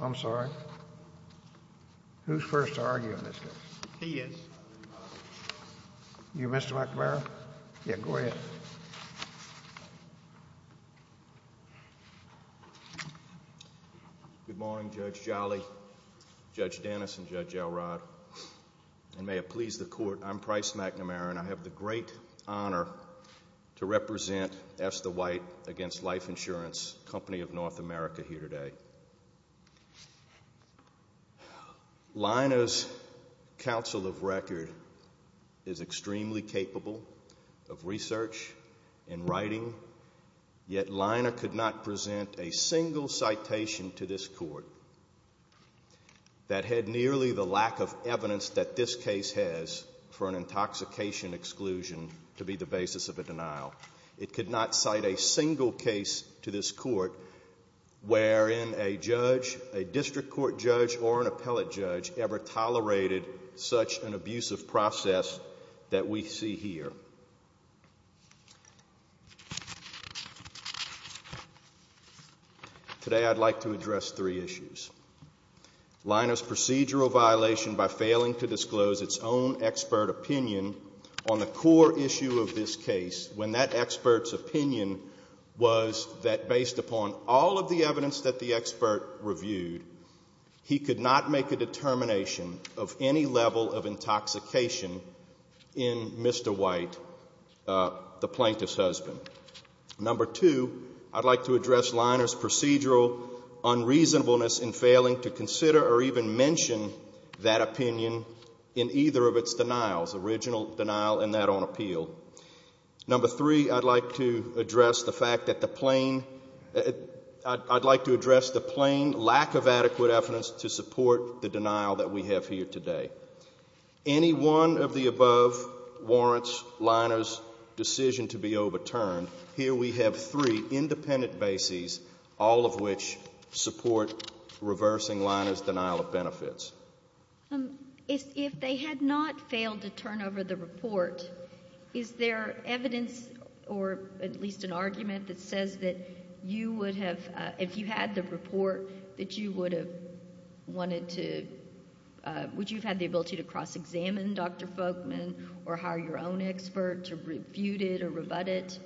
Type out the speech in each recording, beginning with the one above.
I'm sorry. Who's first to argue on this case? He is. You, Mr. McNamara? Yeah, go ahead. Good morning, Judge Jolly, Judge Dennis, and Judge Elrod. And may it please the Court, I'm Price McNamara, and I have the great honor to represent S. The White against Life Insurance, a company of North America, here today. Lina's counsel of record is extremely capable of research and writing, yet Lina could not present a single citation to this Court that had nearly the lack of evidence that this case has for an intoxication exclusion to be the basis of a denial. It could not cite a single case to this Court wherein a judge, a district court judge, or an appellate judge ever tolerated such an abusive process that we see here. Today, I'd like to address three issues. Lina's procedural violation by failing to disclose its own expert opinion on the core issue of this case, when that expert's opinion was that based upon all of the evidence that the expert reviewed, he could not make a determination of any level of intoxication in Mr. White, the plaintiff's husband. Number two, I'd like to address Lina's procedural unreasonableness in failing to consider or even mention that opinion in either of its denials, original denial and that on appeal. Number three, I'd like to address the fact that the plain lack of adequate evidence to support the denial that we have here today. Any one of the above warrants Lina's decision to be overturned. Here we have three independent bases, all of which support reversing Lina's denial of benefits. If they had not failed to turn over the report, is there evidence or at least an argument that says that you would have, if you had the report, that you would have wanted to, would you have had the ability to cross-examine Dr. Folkman or hire your own expert to refute it or rebut it?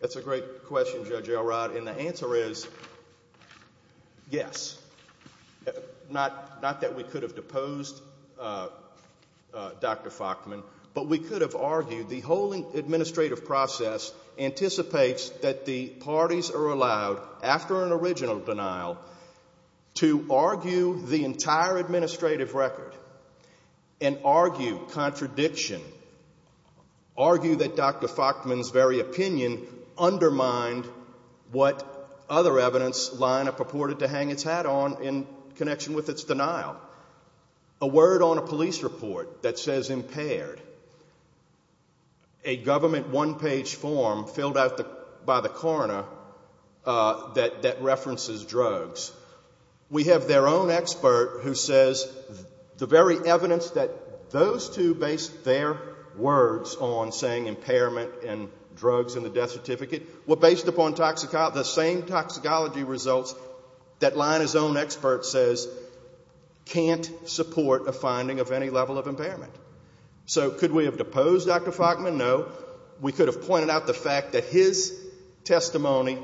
That's a great question, Judge Elrod, and the answer is yes. Not that we could have deposed Dr. Folkman, but we could have argued the whole administrative process anticipates that the parties are allowed, after an original denial, to argue the entire administrative record and argue contradiction, argue that Dr. Folkman's very opinion undermined what other evidence Lina purported to hang its hat on in connection with its denial. A word on a police report that says impaired, a government one-page form filled out by the coroner that references drugs, we have their own expert who says the very evidence that those two based their words on saying impairment and drugs in the death certificate were based upon the same toxicology results that Lina's own expert says can't support a finding of any level of impairment. So could we have deposed Dr. Folkman? No. We could have pointed out the fact that his testimony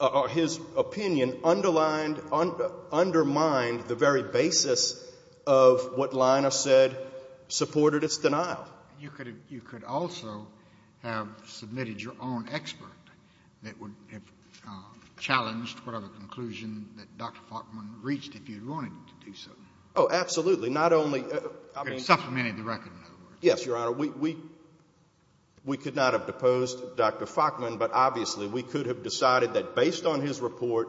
or his opinion underlined, undermined the very basis of what Lina said supported its denial. You could also have submitted your own expert that would have challenged whatever conclusion that Dr. Folkman reached if you wanted to do so. Oh, absolutely. Not only... Supplementing the record, in other words. Yes, Your Honor. We could not have deposed Dr. Folkman, but obviously we could have decided that based on his report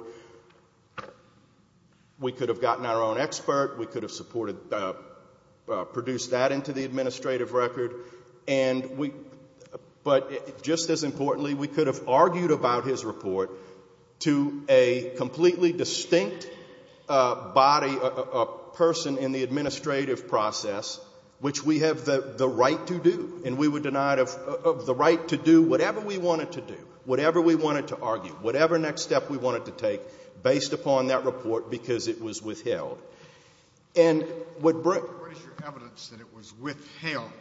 we could have gotten our own expert. We could have supported, produced that into the administrative record, but just as importantly, we could have argued about his report to a completely distinct body, a person in the administrative process, which we have the right to do. And we were denied the right to do whatever we wanted to do, whatever we wanted to argue, whatever next step we wanted to take based upon that report because it was withheld. What is your evidence that it was withheld?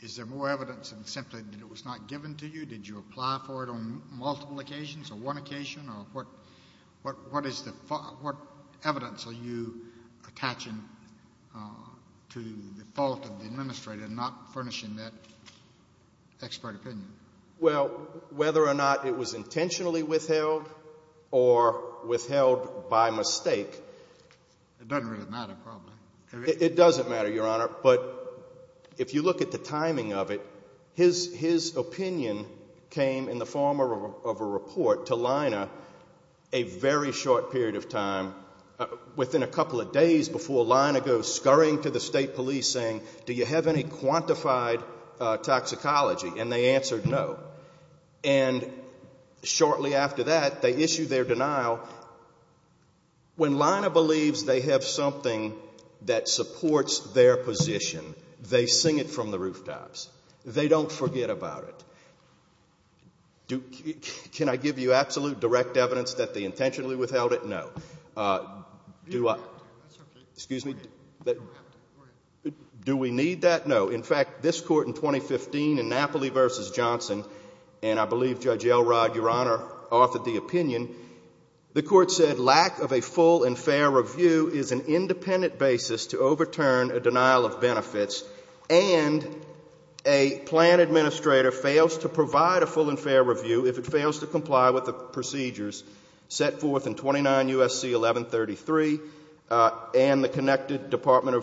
Is there more evidence than simply that it was not given to you? Did you apply for it on multiple occasions or one occasion, or what evidence are you attaching to the fault of the administrator not furnishing that expert opinion? Well, whether or not it was intentionally withheld or withheld by mistake... It doesn't really matter, probably. It doesn't matter, Your Honor, but if you look at the timing of it, his opinion came in the form of a report to Lina a very short period of time, within a couple of days before Lina goes scurrying to the state police saying, Do you have any quantified toxicology? And they answered no. And shortly after that, they issue their denial. When Lina believes they have something that supports their position, they sing it from the rooftops. They don't forget about it. Can I give you absolute direct evidence that they intentionally withheld it? No. Excuse me? Do we need that? No. In fact, this Court in 2015 in Napoli v. Johnson, and I believe Judge Elrod, Your Honor, authored the opinion. The Court said lack of a full and fair review is an independent basis to overturn a denial of benefits, and a plan administrator fails to provide a full and fair review if it fails to comply with the procedures set forth in 29 U.S.C. 1133 and the connected Department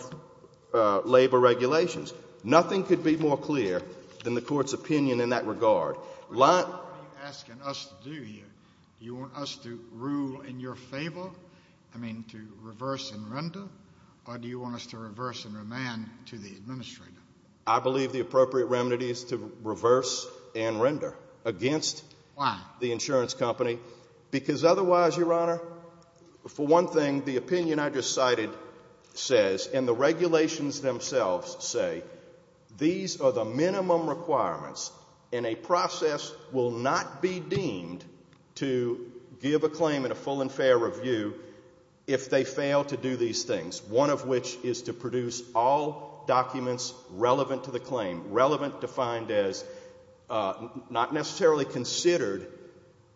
of Labor regulations. Nothing could be more clear than the Court's opinion in that regard. What are you asking us to do here? Do you want us to rule in your favor, I mean to reverse and render? Or do you want us to reverse and remand to the administrator? I believe the appropriate remedy is to reverse and render against the insurance company. Why? Because otherwise, Your Honor, for one thing, the opinion I just cited says, and the regulations themselves say, these are the minimum requirements, and a process will not be deemed to give a claim in a full and fair review if they fail to do these things, one of which is to produce all documents relevant to the claim, relevant defined as not necessarily considered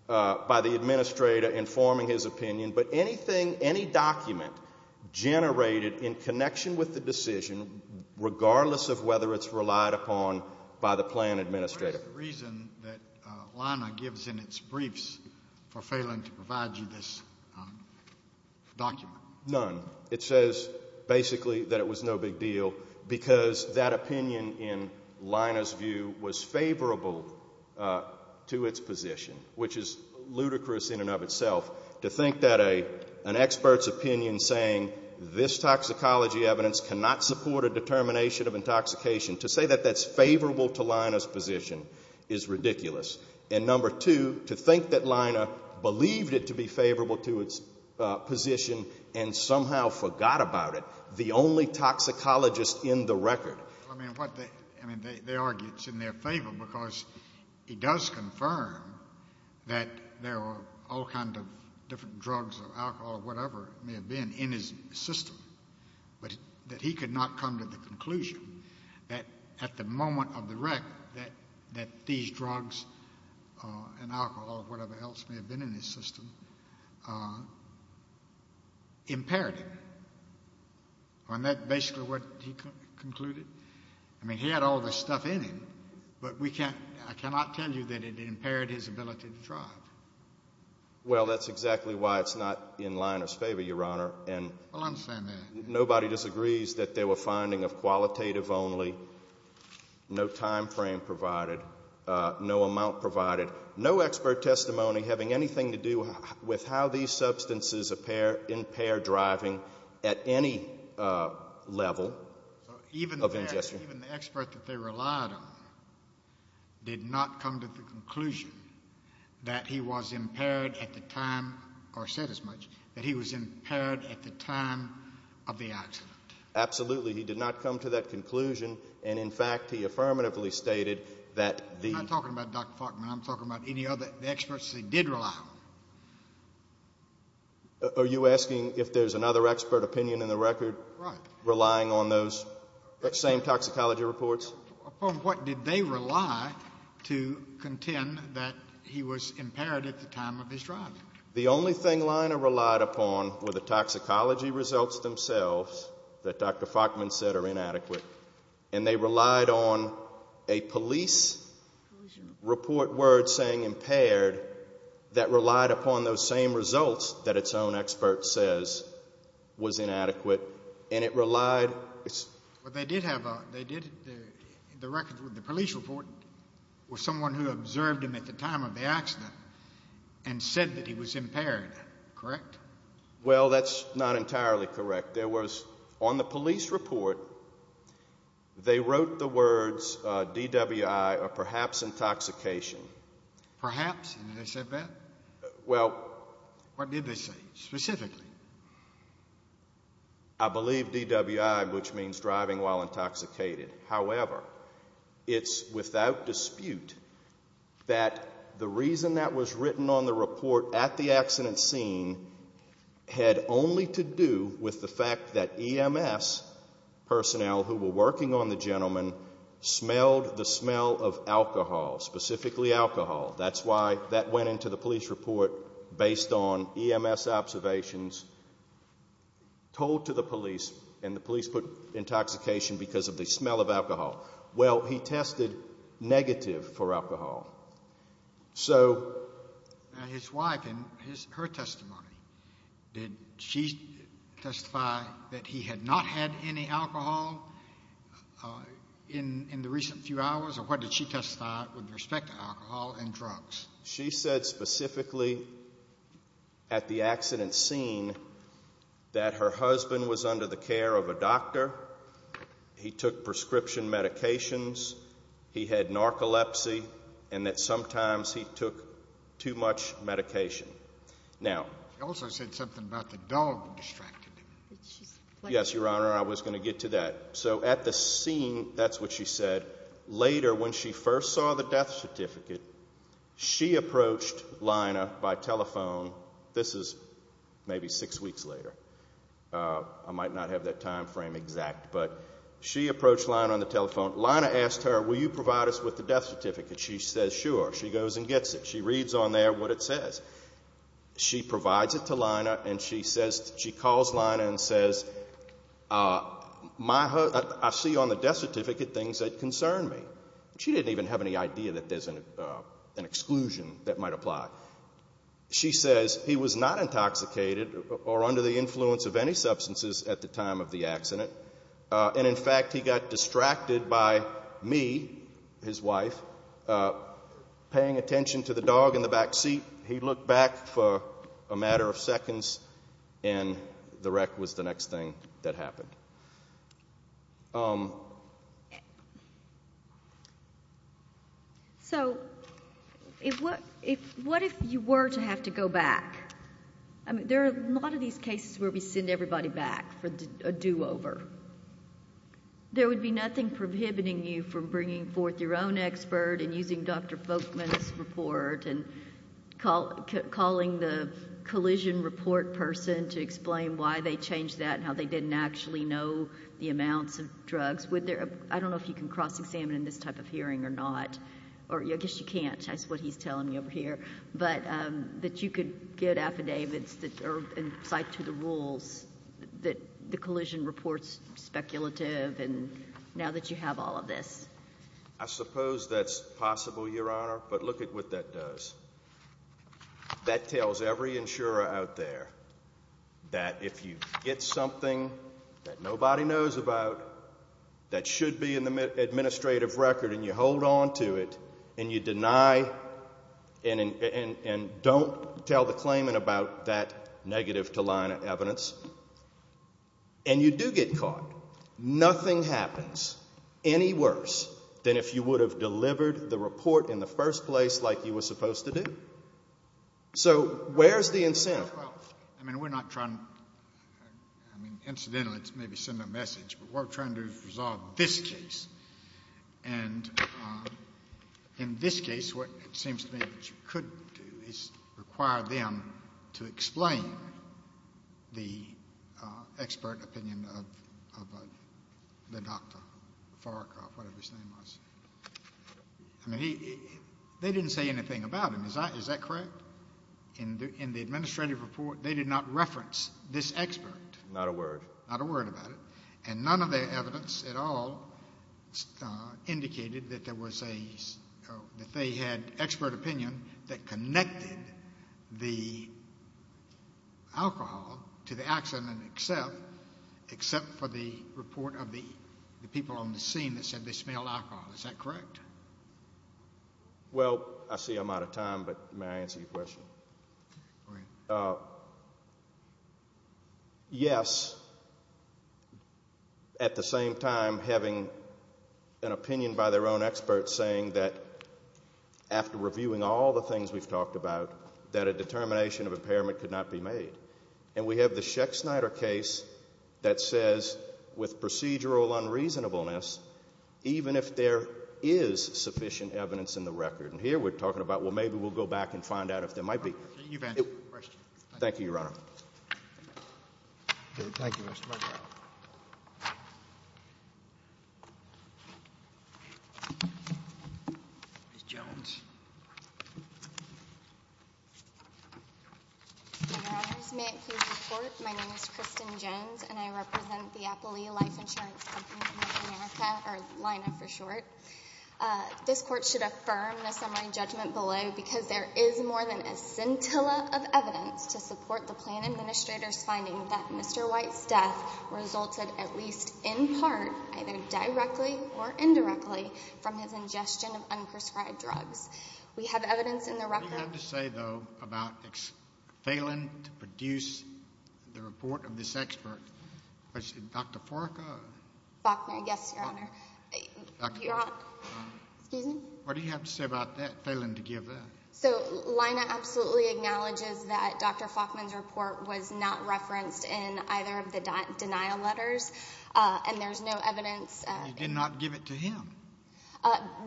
by the administrator in forming his opinion, but anything, any document generated in connection with the decision, regardless of whether it's relied upon by the plan administrator. What is the reason that Lana gives in its briefs for failing to provide you this document? None. It says basically that it was no big deal because that opinion, in Lana's view, was favorable to its position, which is ludicrous in and of itself. To think that an expert's opinion saying this toxicology evidence cannot support a determination of intoxication, to say that that's favorable to Lana's position is ridiculous. And number two, to think that Lana believed it to be favorable to its position and somehow forgot about it, the only toxicologist in the record. I mean, they argue it's in their favor because he does confirm that there are all kinds of different drugs or alcohol or whatever may have been in his system, but that he could not come to the conclusion that at the moment of the record that these drugs and alcohol or whatever else may have been in his system impaired him. Isn't that basically what he concluded? I mean, he had all this stuff in him, but we can't, I cannot tell you that it impaired his ability to drive. Well, that's exactly why it's not in Lana's favor, Your Honor. Well, I understand that. Nobody disagrees that they were finding of qualitative only, no time frame provided, no amount provided, no expert testimony having anything to do with how these substances impair driving at any level of ingestion. Even the expert that they relied on did not come to the conclusion that he was impaired at the time, or said as much, that he was impaired at the time of the accident. Absolutely. He did not come to that conclusion. And, in fact, he affirmatively stated that the... I'm not talking about Dr. Faulkner. I'm talking about any other experts they did rely on. Are you asking if there's another expert opinion in the record... Right.... relying on those same toxicology reports? Upon what did they rely to contend that he was impaired at the time of his driving? The only thing Lana relied upon were the toxicology results themselves that Dr. Faulkner said are inadequate. And they relied on a police report word saying impaired that relied upon those same results that its own expert says was inadequate. And it relied... Well, they did have a... the police report was someone who observed him at the time of the accident and said that he was impaired. Correct? Well, that's not entirely correct. There was... on the police report, they wrote the words DWI, or perhaps intoxication. Perhaps? Did they say that? Well... What did they say specifically? I believe DWI, which means driving while intoxicated. However, it's without dispute that the reason that was written on the report at the accident scene had only to do with the fact that EMS personnel who were working on the gentleman smelled the smell of alcohol, specifically alcohol. That's why that went into the police report based on EMS observations told to the police, and the police put intoxication because of the smell of alcohol. Well, he tested negative for alcohol. So... She said specifically at the accident scene that her husband was under the care of a doctor, he took prescription medications, he had narcolepsy, and that sometimes he took too much medication. Now... She also said something about the dog distracted him. Yes, Your Honor, I was going to get to that. So at the scene, that's what she said, later when she first saw the death certificate, she approached Lina by telephone. This is maybe six weeks later. I might not have that time frame exact, but she approached Lina on the telephone. Lina asked her, will you provide us with the death certificate? She says, sure. She goes and gets it. She reads on there what it says. She provides it to Lina, and she calls Lina and says, I see on the death certificate things that concern me. She didn't even have any idea that there's an exclusion that might apply. She says, he was not intoxicated or under the influence of any substances at the time of the accident, and in fact, he got distracted by me, his wife, paying attention to the dog in the back seat. He looked back for a matter of seconds, and the wreck was the next thing that happened. So what if you were to have to go back? There are a lot of these cases where we send everybody back for a do-over. There would be nothing prohibiting you from bringing forth your own expert and using Dr. Folkman's report and calling the collision report person to explain why they changed that and how they didn't actually know the amounts of drugs. I don't know if you can cross-examine in this type of hearing or not, or I guess you can't. That's what he's telling me over here. But that you could get affidavits that are in sight to the rules, that the collision report's speculative, and now that you have all of this. I suppose that's possible, Your Honor, but look at what that does. That tells every insurer out there that if you get something that nobody knows about that should be in the administrative record and you hold on to it and you deny and don't tell the claimant about that negative to line of evidence, and you do get caught, nothing happens any worse than if you would have delivered the report in the first place like you were supposed to do. So where's the incentive? I mean, incidentally, it's maybe sending a message, but we're trying to resolve this case. And in this case what it seems to me that you could do is require them to explain the expert opinion of the doctor, Farrakhan, whatever his name was. I mean, they didn't say anything about him. Is that correct? In the administrative report, they did not reference this expert. Not a word. Not a word about it. And none of their evidence at all indicated that they had expert opinion that connected the alcohol to the accident except for the report of the people on the scene that said they smelled alcohol. Is that correct? Well, I see I'm out of time, but may I answer your question? Go ahead. Yes. At the same time, having an opinion by their own experts saying that after reviewing all the things we've talked about, that a determination of impairment could not be made. And we have the Sheck-Snyder case that says with procedural unreasonableness, even if there is sufficient evidence in the record. And here we're talking about, well, maybe we'll go back and find out if there might be. You've answered the question. Thank you, Your Honor. Thank you, Mr. Murdoch. Ms. Jones. Thank you very much. Your Honors, may it please the Court, my name is Kristen Jones, and I represent the Appalooh Life Insurance Company of North America, or LINA for short. This Court should affirm the summary judgment below because there is more than a scintilla of evidence to support the Planned Administrator's finding that Mr. White's death resulted at least in part, either directly or indirectly, from his ingestion of unprescribed drugs. We have evidence in the record. What do you have to say, though, about failing to produce the report of this expert? Dr. Forka? Faulkner, yes, Your Honor. Excuse me? What do you have to say about that, failing to give that? So, LINA absolutely acknowledges that Dr. Faulkner's report was not referenced in either of the denial letters, and there's no evidence. You did not give it to him.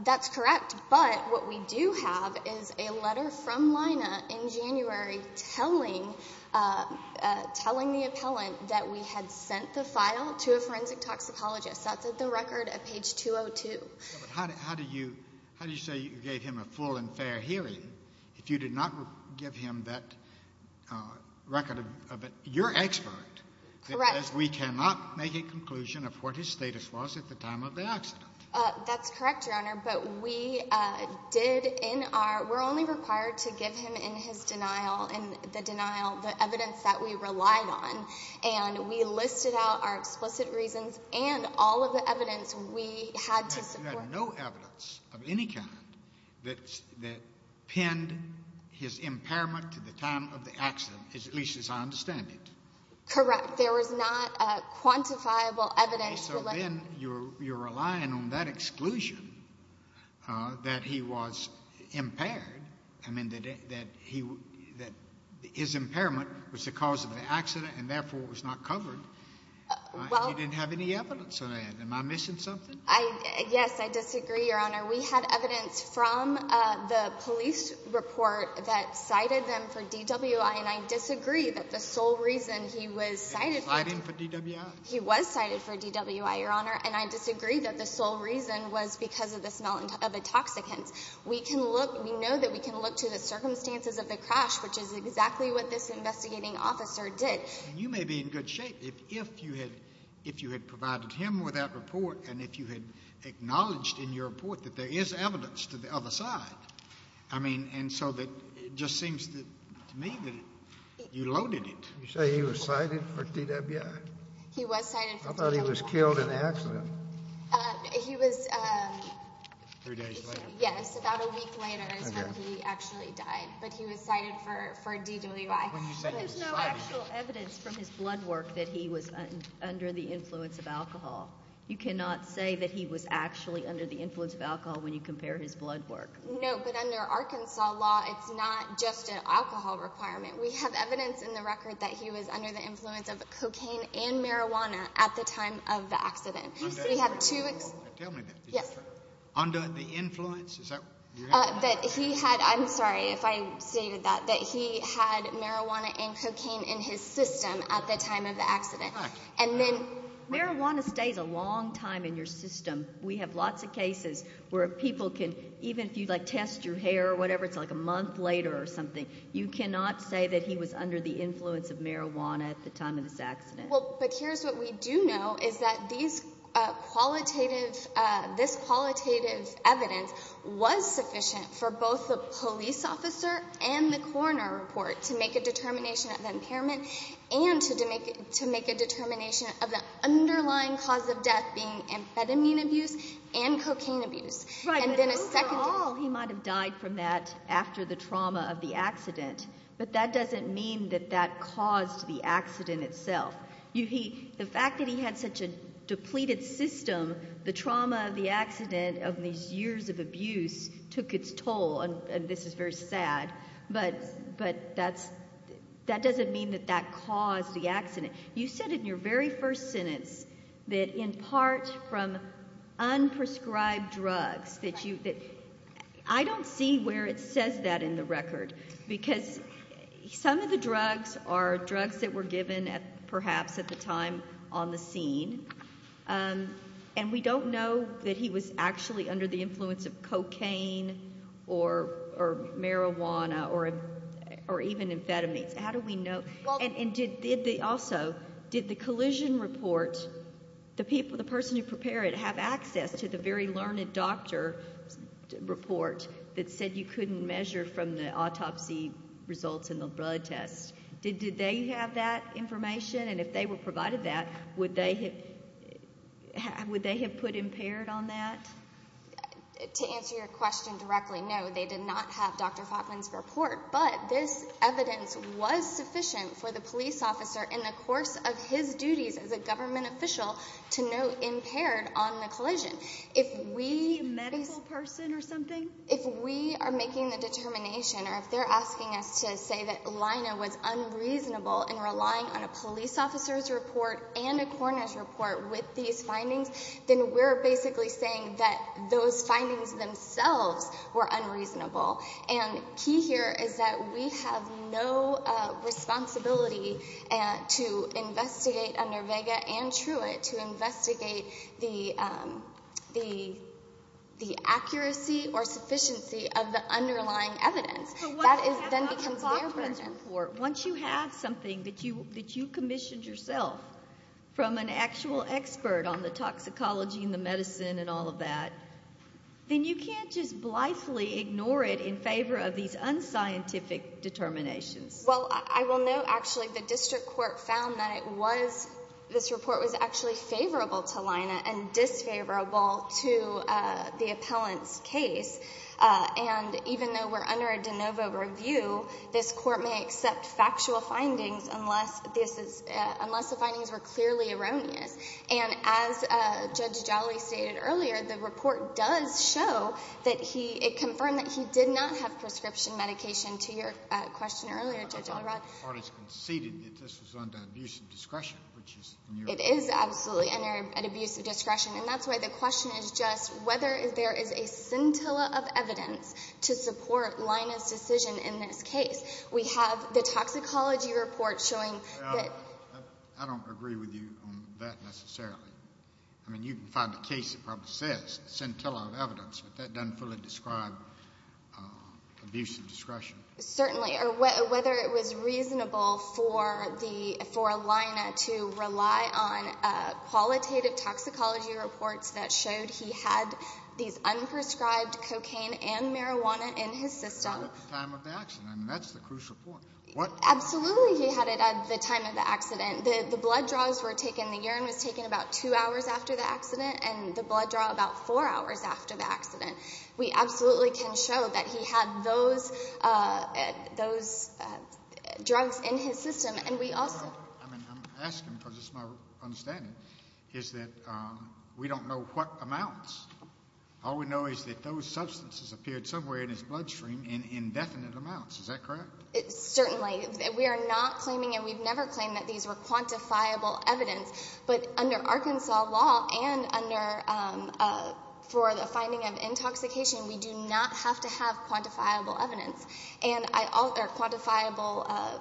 That's correct. But what we do have is a letter from LINA in January telling the appellant that we had sent the file to a forensic toxicologist. That's at the record at page 202. How do you say you gave him a full and fair hearing if you did not give him that record? You're an expert. Correct. Because we cannot make a conclusion of what his status was at the time of the accident. That's correct, Your Honor. But we did in our – we're only required to give him in his denial, in the denial, the evidence that we relied on. And we listed out our explicit reasons and all of the evidence we had to support. There was no evidence of any kind that pinned his impairment to the time of the accident, at least as I understand it. Correct. There was not quantifiable evidence. And so then you're relying on that exclusion that he was impaired, I mean, that his impairment was the cause of the accident and, therefore, it was not covered. Well – You didn't have any evidence of that. Am I missing something? Yes, I disagree, Your Honor. We had evidence from the police report that cited them for DWI, and I disagree that the sole reason he was cited for – Cited for DWI? He was cited for DWI, Your Honor, and I disagree that the sole reason was because of the smell of intoxicants. We can look – we know that we can look to the circumstances of the crash, which is exactly what this investigating officer did. You may be in good shape if you had provided him with that report and if you had acknowledged in your report that there is evidence to the other side. I mean, and so it just seems to me that you loaded it. You say he was cited for DWI? He was cited for DWI. I thought he was killed in the accident. He was – Three days later. Yes, about a week later is when he actually died, but he was cited for DWI. But there's no actual evidence from his blood work that he was under the influence of alcohol. You cannot say that he was actually under the influence of alcohol when you compare his blood work. No, but under Arkansas law, it's not just an alcohol requirement. We have evidence in the record that he was under the influence of cocaine and marijuana at the time of the accident. Tell me that. Yes. Under the influence? That he had – I'm sorry if I stated that. That he had marijuana and cocaine in his system at the time of the accident. And then – Marijuana stays a long time in your system. We have lots of cases where people can – even if you, like, test your hair or whatever, it's like a month later or something. You cannot say that he was under the influence of marijuana at the time of this accident. Well, but here's what we do know is that these qualitative – this qualitative evidence was sufficient for both the police officer and the coroner report to make a determination of impairment and to make a determination of the underlying cause of death being amphetamine abuse and cocaine abuse. Right, but overall, he might have died from that after the trauma of the accident. But that doesn't mean that that caused the accident itself. The fact that he had such a depleted system, the trauma of the accident, of these years of abuse, took its toll, and this is very sad. But that's – that doesn't mean that that caused the accident. You said in your very first sentence that in part from unprescribed drugs that you – I don't see where it says that in the record because some of the drugs are drugs that were given perhaps at the time on the scene, and we don't know that he was actually under the influence of cocaine or marijuana or even amphetamines. How do we know? And did the – also, did the collision report, the person who prepared it, have access to the very learned doctor report that said you couldn't measure from the autopsy results in the blood test? Did they have that information? And if they were provided that, would they have put impaired on that? To answer your question directly, no, they did not have Dr. Falkman's report. But this evidence was sufficient for the police officer in the course of his duties as a government official to note impaired on the collision. If we – Was he a medical person or something? If we are making the determination or if they're asking us to say that Lina was unreasonable in relying on a police officer's report and a coroner's report with these findings, then we're basically saying that those findings themselves were unreasonable. And the key here is that we have no responsibility to investigate under Vega and Truitt to investigate the accuracy or sufficiency of the underlying evidence. That then becomes their burden. Once you have something that you commissioned yourself from an actual expert on the toxicology and the medicine and all of that, then you can't just blithely ignore it in favor of these unscientific determinations. Well, I will note, actually, the district court found that it was – this report was actually favorable to Lina and disfavorable to the appellant's case. And even though we're under a de novo review, this court may accept factual findings unless the findings were clearly erroneous. And as Judge Jolly stated earlier, the report does show that he – it confirmed that he did not have prescription medication, to your question earlier, Judge Elrod. The parties conceded that this was under abusive discretion, which is – It is absolutely under abusive discretion. And that's why the question is just whether there is a scintilla of evidence to support Lina's decision in this case. We have the toxicology report showing that – I don't agree with you on that necessarily. I mean, you can find a case that probably says scintilla of evidence, but that doesn't fully describe abusive discretion. Certainly. Or whether it was reasonable for Lina to rely on qualitative toxicology reports that showed he had these unprescribed cocaine and marijuana in his system. At the time of the accident. I mean, that's the crucial point. Absolutely he had it at the time of the accident. The blood draws were taken – the urine was taken about two hours after the accident, and the blood draw about four hours after the accident. We absolutely can show that he had those drugs in his system, and we also – I'm asking because it's my understanding, is that we don't know what amounts. All we know is that those substances appeared somewhere in his bloodstream in indefinite amounts. Is that correct? Certainly. We are not claiming and we've never claimed that these were quantifiable evidence, but under Arkansas law and under – for the finding of intoxication, we do not have to have quantifiable evidence or quantifiable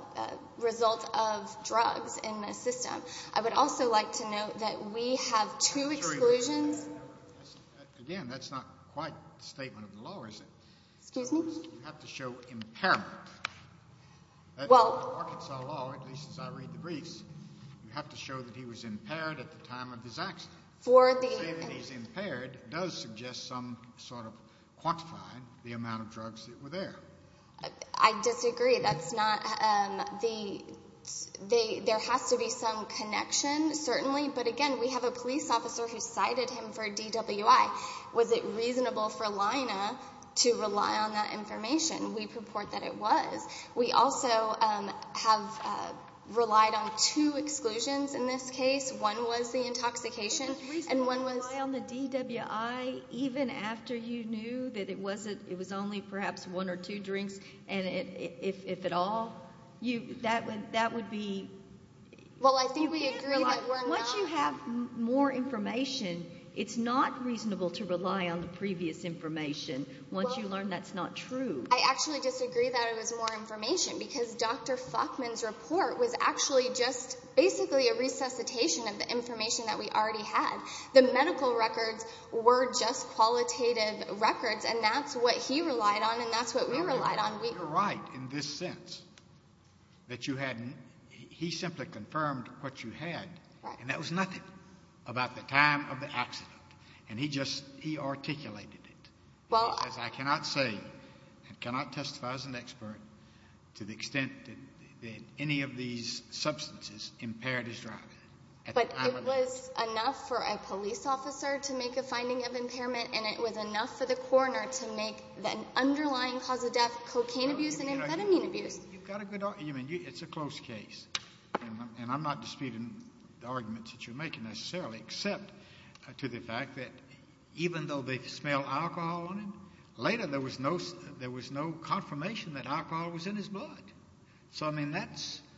results of drugs in the system. I would also like to note that we have two exclusions. Again, that's not quite the statement of the law, is it? Excuse me? You have to show impairment. Well – Under Arkansas law, at least as I read the briefs, you have to show that he was impaired at the time of his accident. For the – Saying that he's impaired does suggest some sort of quantifying the amount of drugs that were there. I disagree. That's not – there has to be some connection, certainly, but, again, we have a police officer who cited him for DWI. Was it reasonable for Lina to rely on that information? We purport that it was. We also have relied on two exclusions in this case. One was the intoxication and one was – Was it reasonable to rely on the DWI even after you knew that it was only perhaps one or two drinks and if at all? That would be – Well, I think we agree that we're not – Once you learn that's not true. I actually disagree that it was more information because Dr. Faulkman's report was actually just basically a resuscitation of the information that we already had. The medical records were just qualitative records, and that's what he relied on and that's what we relied on. You're right in this sense that you hadn't – he simply confirmed what you had, and that was nothing about the time of the accident. And he just – he articulated it. He says, I cannot say and cannot testify as an expert to the extent that any of these substances impaired his driving. But it was enough for a police officer to make a finding of impairment, and it was enough for the coroner to make the underlying cause of death cocaine abuse and amphetamine abuse. You've got a good – I mean, it's a close case, and I'm not disputing the arguments that you're making necessarily except to the fact that even though they smell alcohol on him, later there was no confirmation that alcohol was in his blood. So, I mean, that's –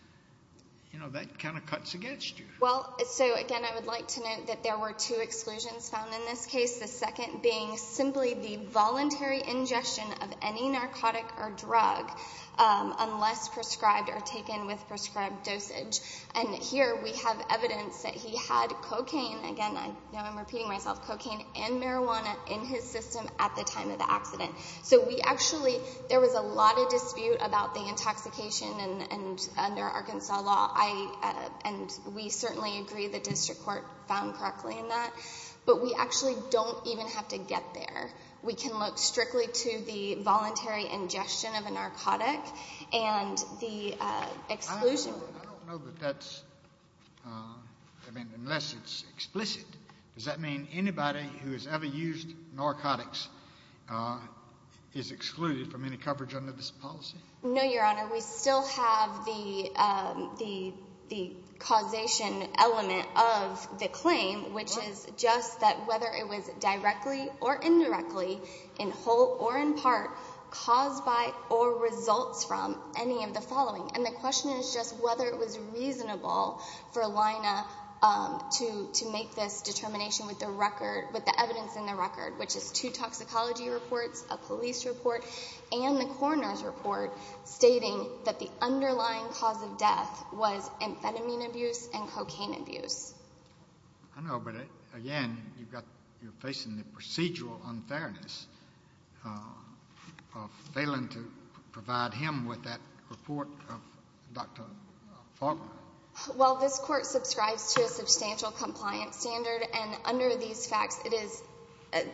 that kind of cuts against you. Well, so again, I would like to note that there were two exclusions found in this case, the second being simply the voluntary ingestion of any narcotic or drug unless prescribed or taken with prescribed dosage. And here we have evidence that he had cocaine – again, I know I'm repeating myself – cocaine and marijuana in his system at the time of the accident. So we actually – there was a lot of dispute about the intoxication, and under Arkansas law, I – and we certainly agree the district court found correctly in that. But we actually don't even have to get there. We can look strictly to the voluntary ingestion of a narcotic and the exclusion. I don't know that that's – I mean, unless it's explicit, does that mean anybody who has ever used narcotics is excluded from any coverage under this policy? No, Your Honor. We still have the causation element of the claim, which is just that whether it was directly or indirectly, in whole or in part, caused by or results from any of the following. And the question is just whether it was reasonable for Lina to make this determination with the record – with the evidence in the record, which is two toxicology reports, a police report, and the coroner's report stating that the underlying cause of death was amphetamine abuse and cocaine abuse. I know, but again, you've got – you're facing the procedural unfairness of failing to provide him with that report of Dr. Faulkner. Well, this court subscribes to a substantial compliance standard, and under these facts, it is, at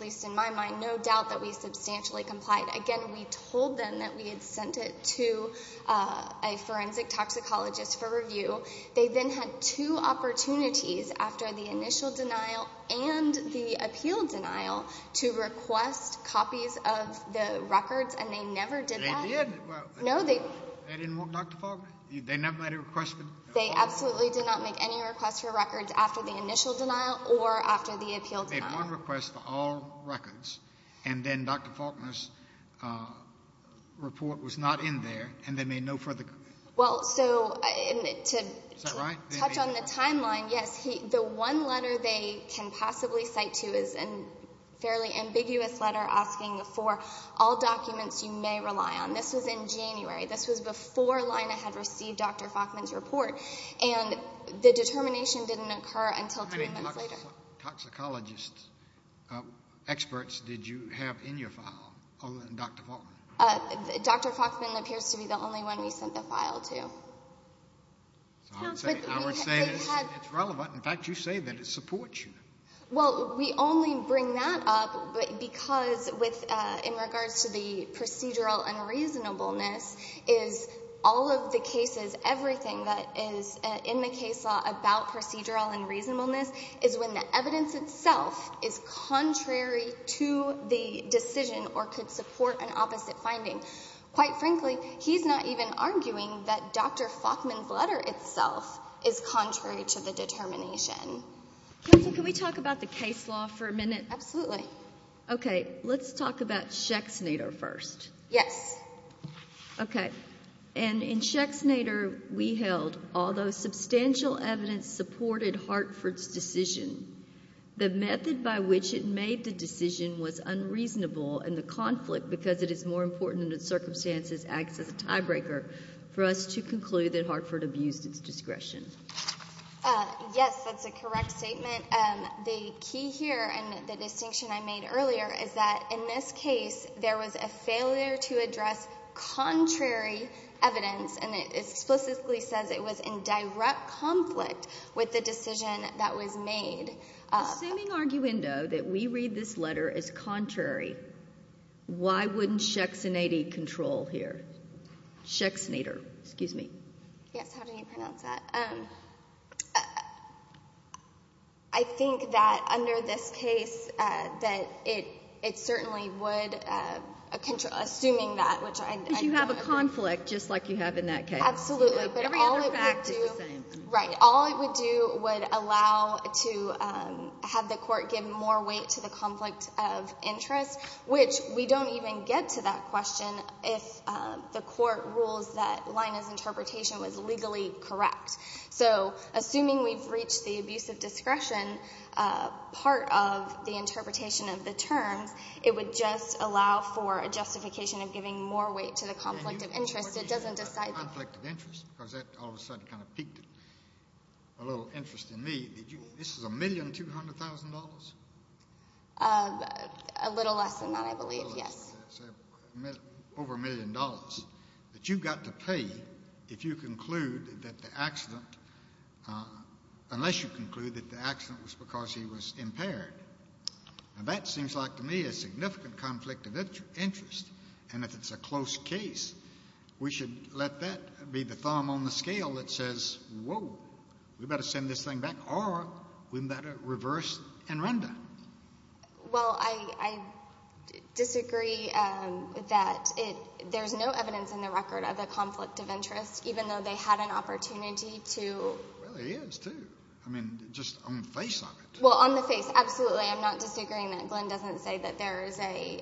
least in my mind, no doubt that we substantially complied. Again, we told them that we had sent it to a forensic toxicologist for review. They then had two opportunities after the initial denial and the appeal denial to request copies of the records, and they never did that. They did. No, they – They didn't want Dr. Faulkner? They never made a request for – They absolutely did not make any requests for records after the initial denial or after the appeal denial. They made one request for all records, and then Dr. Faulkner's report was not in there, and they made no further – Well, so – Is that right? To touch on the timeline, yes, the one letter they can possibly cite to is a fairly ambiguous letter asking for all documents you may rely on. This was in January. This was before Lina had received Dr. Faulkner's report, and the determination didn't occur until two months later. How many toxicologist experts did you have in your file on Dr. Faulkner? Dr. Faulkner appears to be the only one we sent the file to. I would say it's relevant. In fact, you say that it supports you. Well, we only bring that up because with – in regards to the procedural unreasonableness is all of the cases, everything that is in the case law about procedural unreasonableness is when the evidence itself is contrary to the decision or could support an opposite finding. Quite frankly, he's not even arguing that Dr. Faulkner's letter itself is contrary to the determination. Counsel, can we talk about the case law for a minute? Absolutely. Okay. Let's talk about Schexnader first. Yes. Okay. And in Schexnader, we held although substantial evidence supported Hartford's decision, the method by which it made the decision was unreasonable, and the conflict because it is more important than the circumstances acts as a tiebreaker for us to conclude that Hartford abused its discretion. Yes, that's a correct statement. The key here and the distinction I made earlier is that in this case there was a failure to address contrary evidence, and it explicitly says it was in direct conflict with the decision that was made. Assuming arguendo that we read this letter as contrary, why wouldn't Schexnader control here? Schexnader. Excuse me. Yes, how do you pronounce that? I think that under this case that it certainly would, assuming that which I know of. Because you have a conflict just like you have in that case. Absolutely. But all it would do. Every other fact is the same. Right. All it would do would allow to have the court give more weight to the conflict of interest, which we don't even get to that question if the court rules that Lina's interpretation was legally correct. So assuming we've reached the abuse of discretion part of the interpretation of the terms, it would just allow for a justification of giving more weight to the conflict of interest. It doesn't decide. A conflict of interest? Because that all of a sudden kind of piqued a little interest in me. This is $1,200,000? A little less than that, I believe, yes. A little less than that. Over a million dollars that you've got to pay if you conclude that the accident, unless you conclude that the accident was because he was impaired. Now, that seems like to me a significant conflict of interest. And if it's a close case, we should let that be the thumb on the scale that says, whoa, we better send this thing back or we better reverse and render. Well, I disagree that there's no evidence in the record of a conflict of interest, even though they had an opportunity to. Well, there is, too. I mean, just on the face of it. Well, on the face, absolutely. I'm not disagreeing that Glenn doesn't say that there is a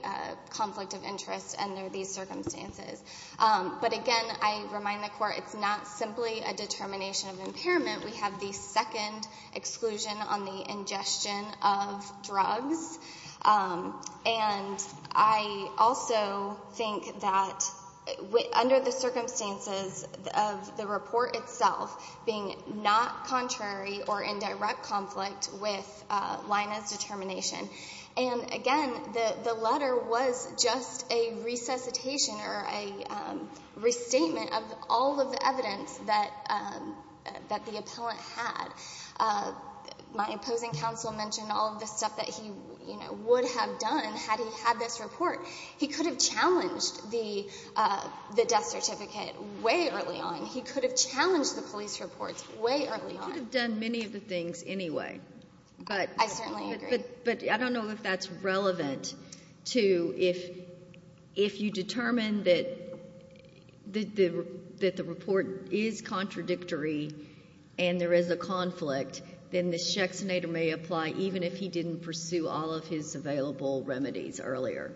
conflict of interest under these circumstances. But again, I remind the Court, it's not simply a determination of impairment. We have the second exclusion on the ingestion of drugs. And I also think that under the circumstances of the report itself being not contrary or in direct conflict with Lyna's determination. And again, the letter was just a resuscitation or a restatement of all of the evidence that the appellant had. My opposing counsel mentioned all of the stuff that he would have done had he had this report. He could have challenged the death certificate way early on. He could have challenged the police reports way early on. He could have done many of the things anyway. I certainly agree. But I don't know if that's relevant to if you determine that the report is contradictory and there is a conflict, then the Schexenator may apply even if he didn't pursue all of his available remedies earlier.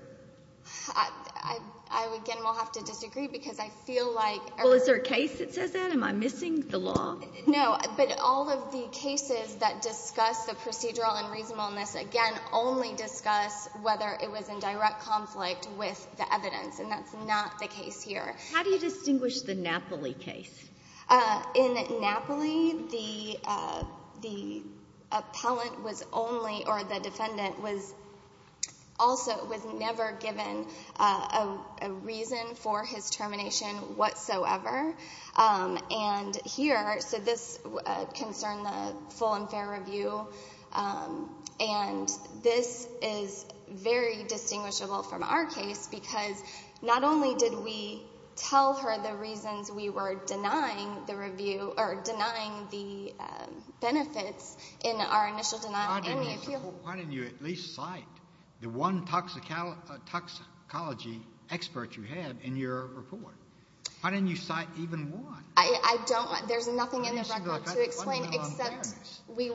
I, again, will have to disagree because I feel like every... Well, is there a case that says that? Am I missing the law? No, but all of the cases that discuss the procedural and reasonableness, again, only discuss whether it was in direct conflict with the evidence, and that's not the case here. How do you distinguish the Napoli case? In Napoli, the appellant was only, or the defendant was also, was never given a reason for his termination whatsoever. And here, so this concerned the full and fair review, and this is very distinguishable from our case because not only did we tell her the reasons we were denying the review or denying the benefits in our initial denial... Why didn't you at least cite the one toxicology expert you had in your report? Why didn't you cite even one? I don't, there's nothing in the record to explain except we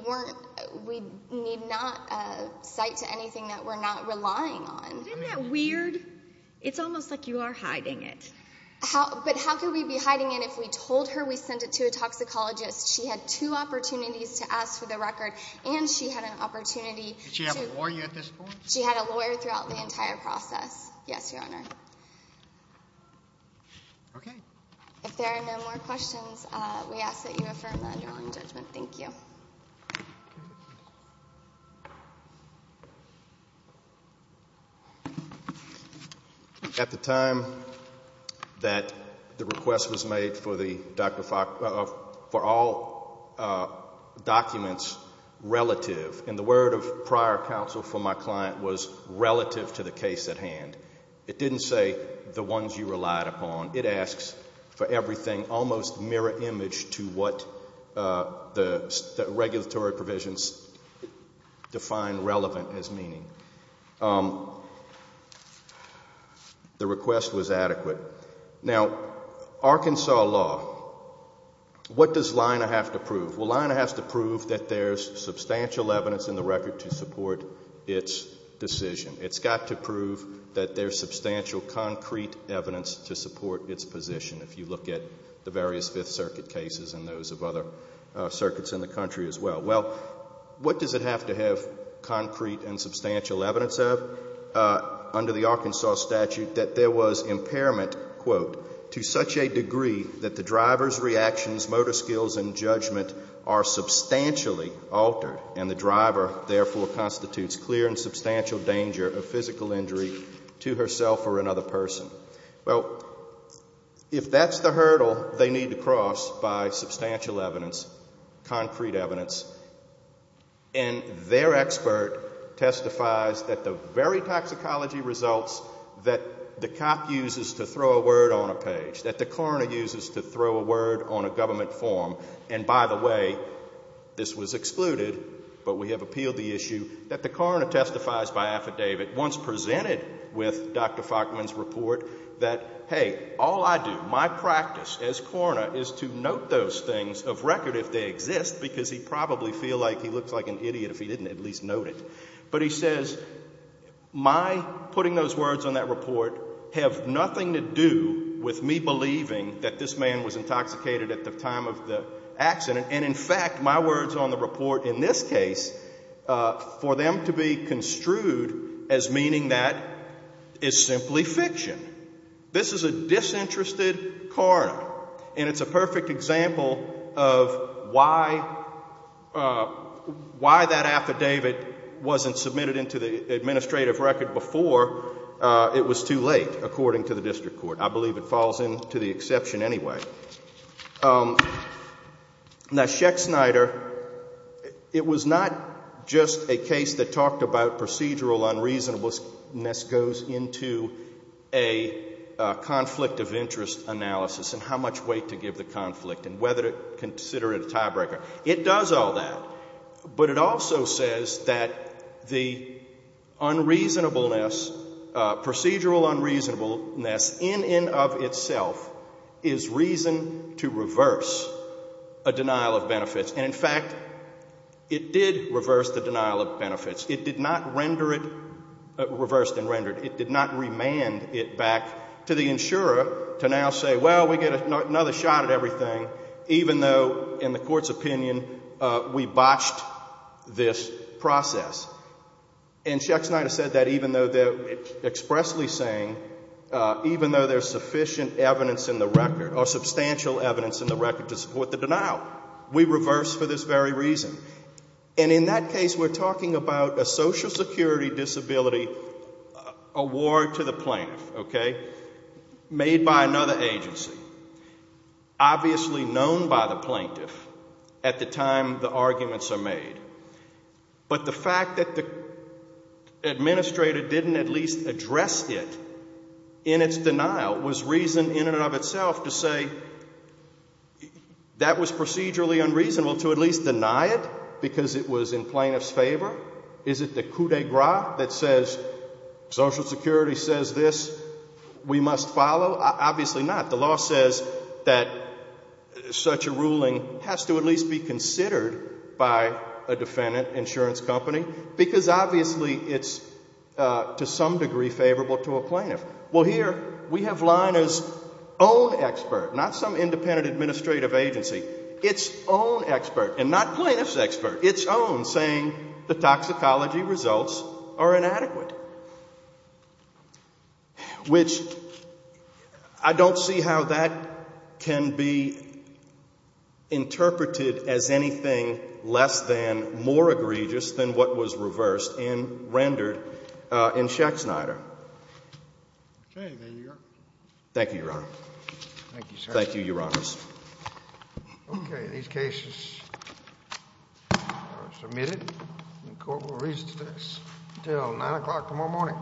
need not cite to anything that we're not relying on. Isn't that weird? It's almost like you are hiding it. But how could we be hiding it if we told her we sent it to a toxicologist? She had two opportunities to ask for the record, and she had an opportunity to... Did she have a lawyer at this point? She had a lawyer throughout the entire process. Yes, Your Honor. Okay. If there are no more questions, we ask that you affirm the underlying judgment. Thank you. At the time that the request was made for all documents relative, and the word of prior counsel for my client was relative to the case at hand. It didn't say the ones you relied upon. It asks for everything almost mirror image to what the regulatory provisions define relevant as meaning. The request was adequate. Now, Arkansas law, what does Leina have to prove? Well, Leina has to prove that there's substantial evidence in the record to support its decision. It's got to prove that there's substantial concrete evidence to support its position, if you look at the various Fifth Circuit cases and those of other circuits in the country as well. Well, what does it have to have concrete and substantial evidence of under the Arkansas statute that there was impairment, quote, to such a degree that the driver's reactions, motor skills, and judgment are substantially altered, and the driver, therefore, constitutes clear and substantial danger of physical injury to herself or another person? Well, if that's the hurdle they need to cross by substantial evidence, concrete evidence, and their expert testifies that the very toxicology results that the cop uses to throw a word on a page, that the coroner uses to throw a word on a government form, and by the way, this was excluded, but we have appealed the issue, that the coroner testifies by affidavit, once presented with Dr. Faulkman's report, that, hey, all I do, my practice as coroner, is to note those things of record if they exist, because he'd probably feel like he looks like an idiot if he didn't at least note it, but he says, my putting those words on that report have nothing to do with me believing that this man was intoxicated at the time of the accident, and in fact, my words on the report in this case, for them to be construed as meaning that is simply fiction. This is a disinterested coroner, and it's a perfect example of why that affidavit wasn't submitted into the administrative record before it was too late, according to the district court. I believe it falls into the exception anyway. Now, Schecht-Snyder, it was not just a case that talked about procedural unreasonableness goes into a conflict of interest analysis and how much weight to give the conflict and whether to consider it a tiebreaker. It does all that, but it also says that the unreasonableness, procedural unreasonableness, in and of itself, is reason to reverse a denial of benefits. And in fact, it did reverse the denial of benefits. It did not render it reversed and rendered. It did not remand it back to the insurer to now say, well, we get another shot at everything, even though, in the court's opinion, we botched this process. And Schecht-Snyder said that even though they're expressly saying, even though there's sufficient evidence in the record or substantial evidence in the record to support the denial, we reverse for this very reason. And in that case, we're talking about a Social Security disability award to the plaintiff, okay, made by another agency, obviously known by the plaintiff at the time the arguments are made. But the fact that the administrator didn't at least address it in its denial was reason in and of itself to say that was procedurally unreasonable to at least deny it because it was in plaintiff's favor? Is it the coup de grace that says Social Security says this, we must follow? Obviously not. The law says that such a ruling has to at least be considered by a defendant, insurance company, because obviously it's to some degree favorable to a plaintiff. Well, here we have Leina's own expert, not some independent administrative agency, its own expert, and not plaintiff's expert, its own, saying the toxicology results are inadequate, which I don't see how that can be interpreted as anything less than more egregious than what was reversed and rendered in Schechsneider. Okay. There you are. Thank you, Your Honor. Thank you, sir. Thank you, Your Honors. Okay. These cases are submitted. The court will recess until 9 o'clock tomorrow morning.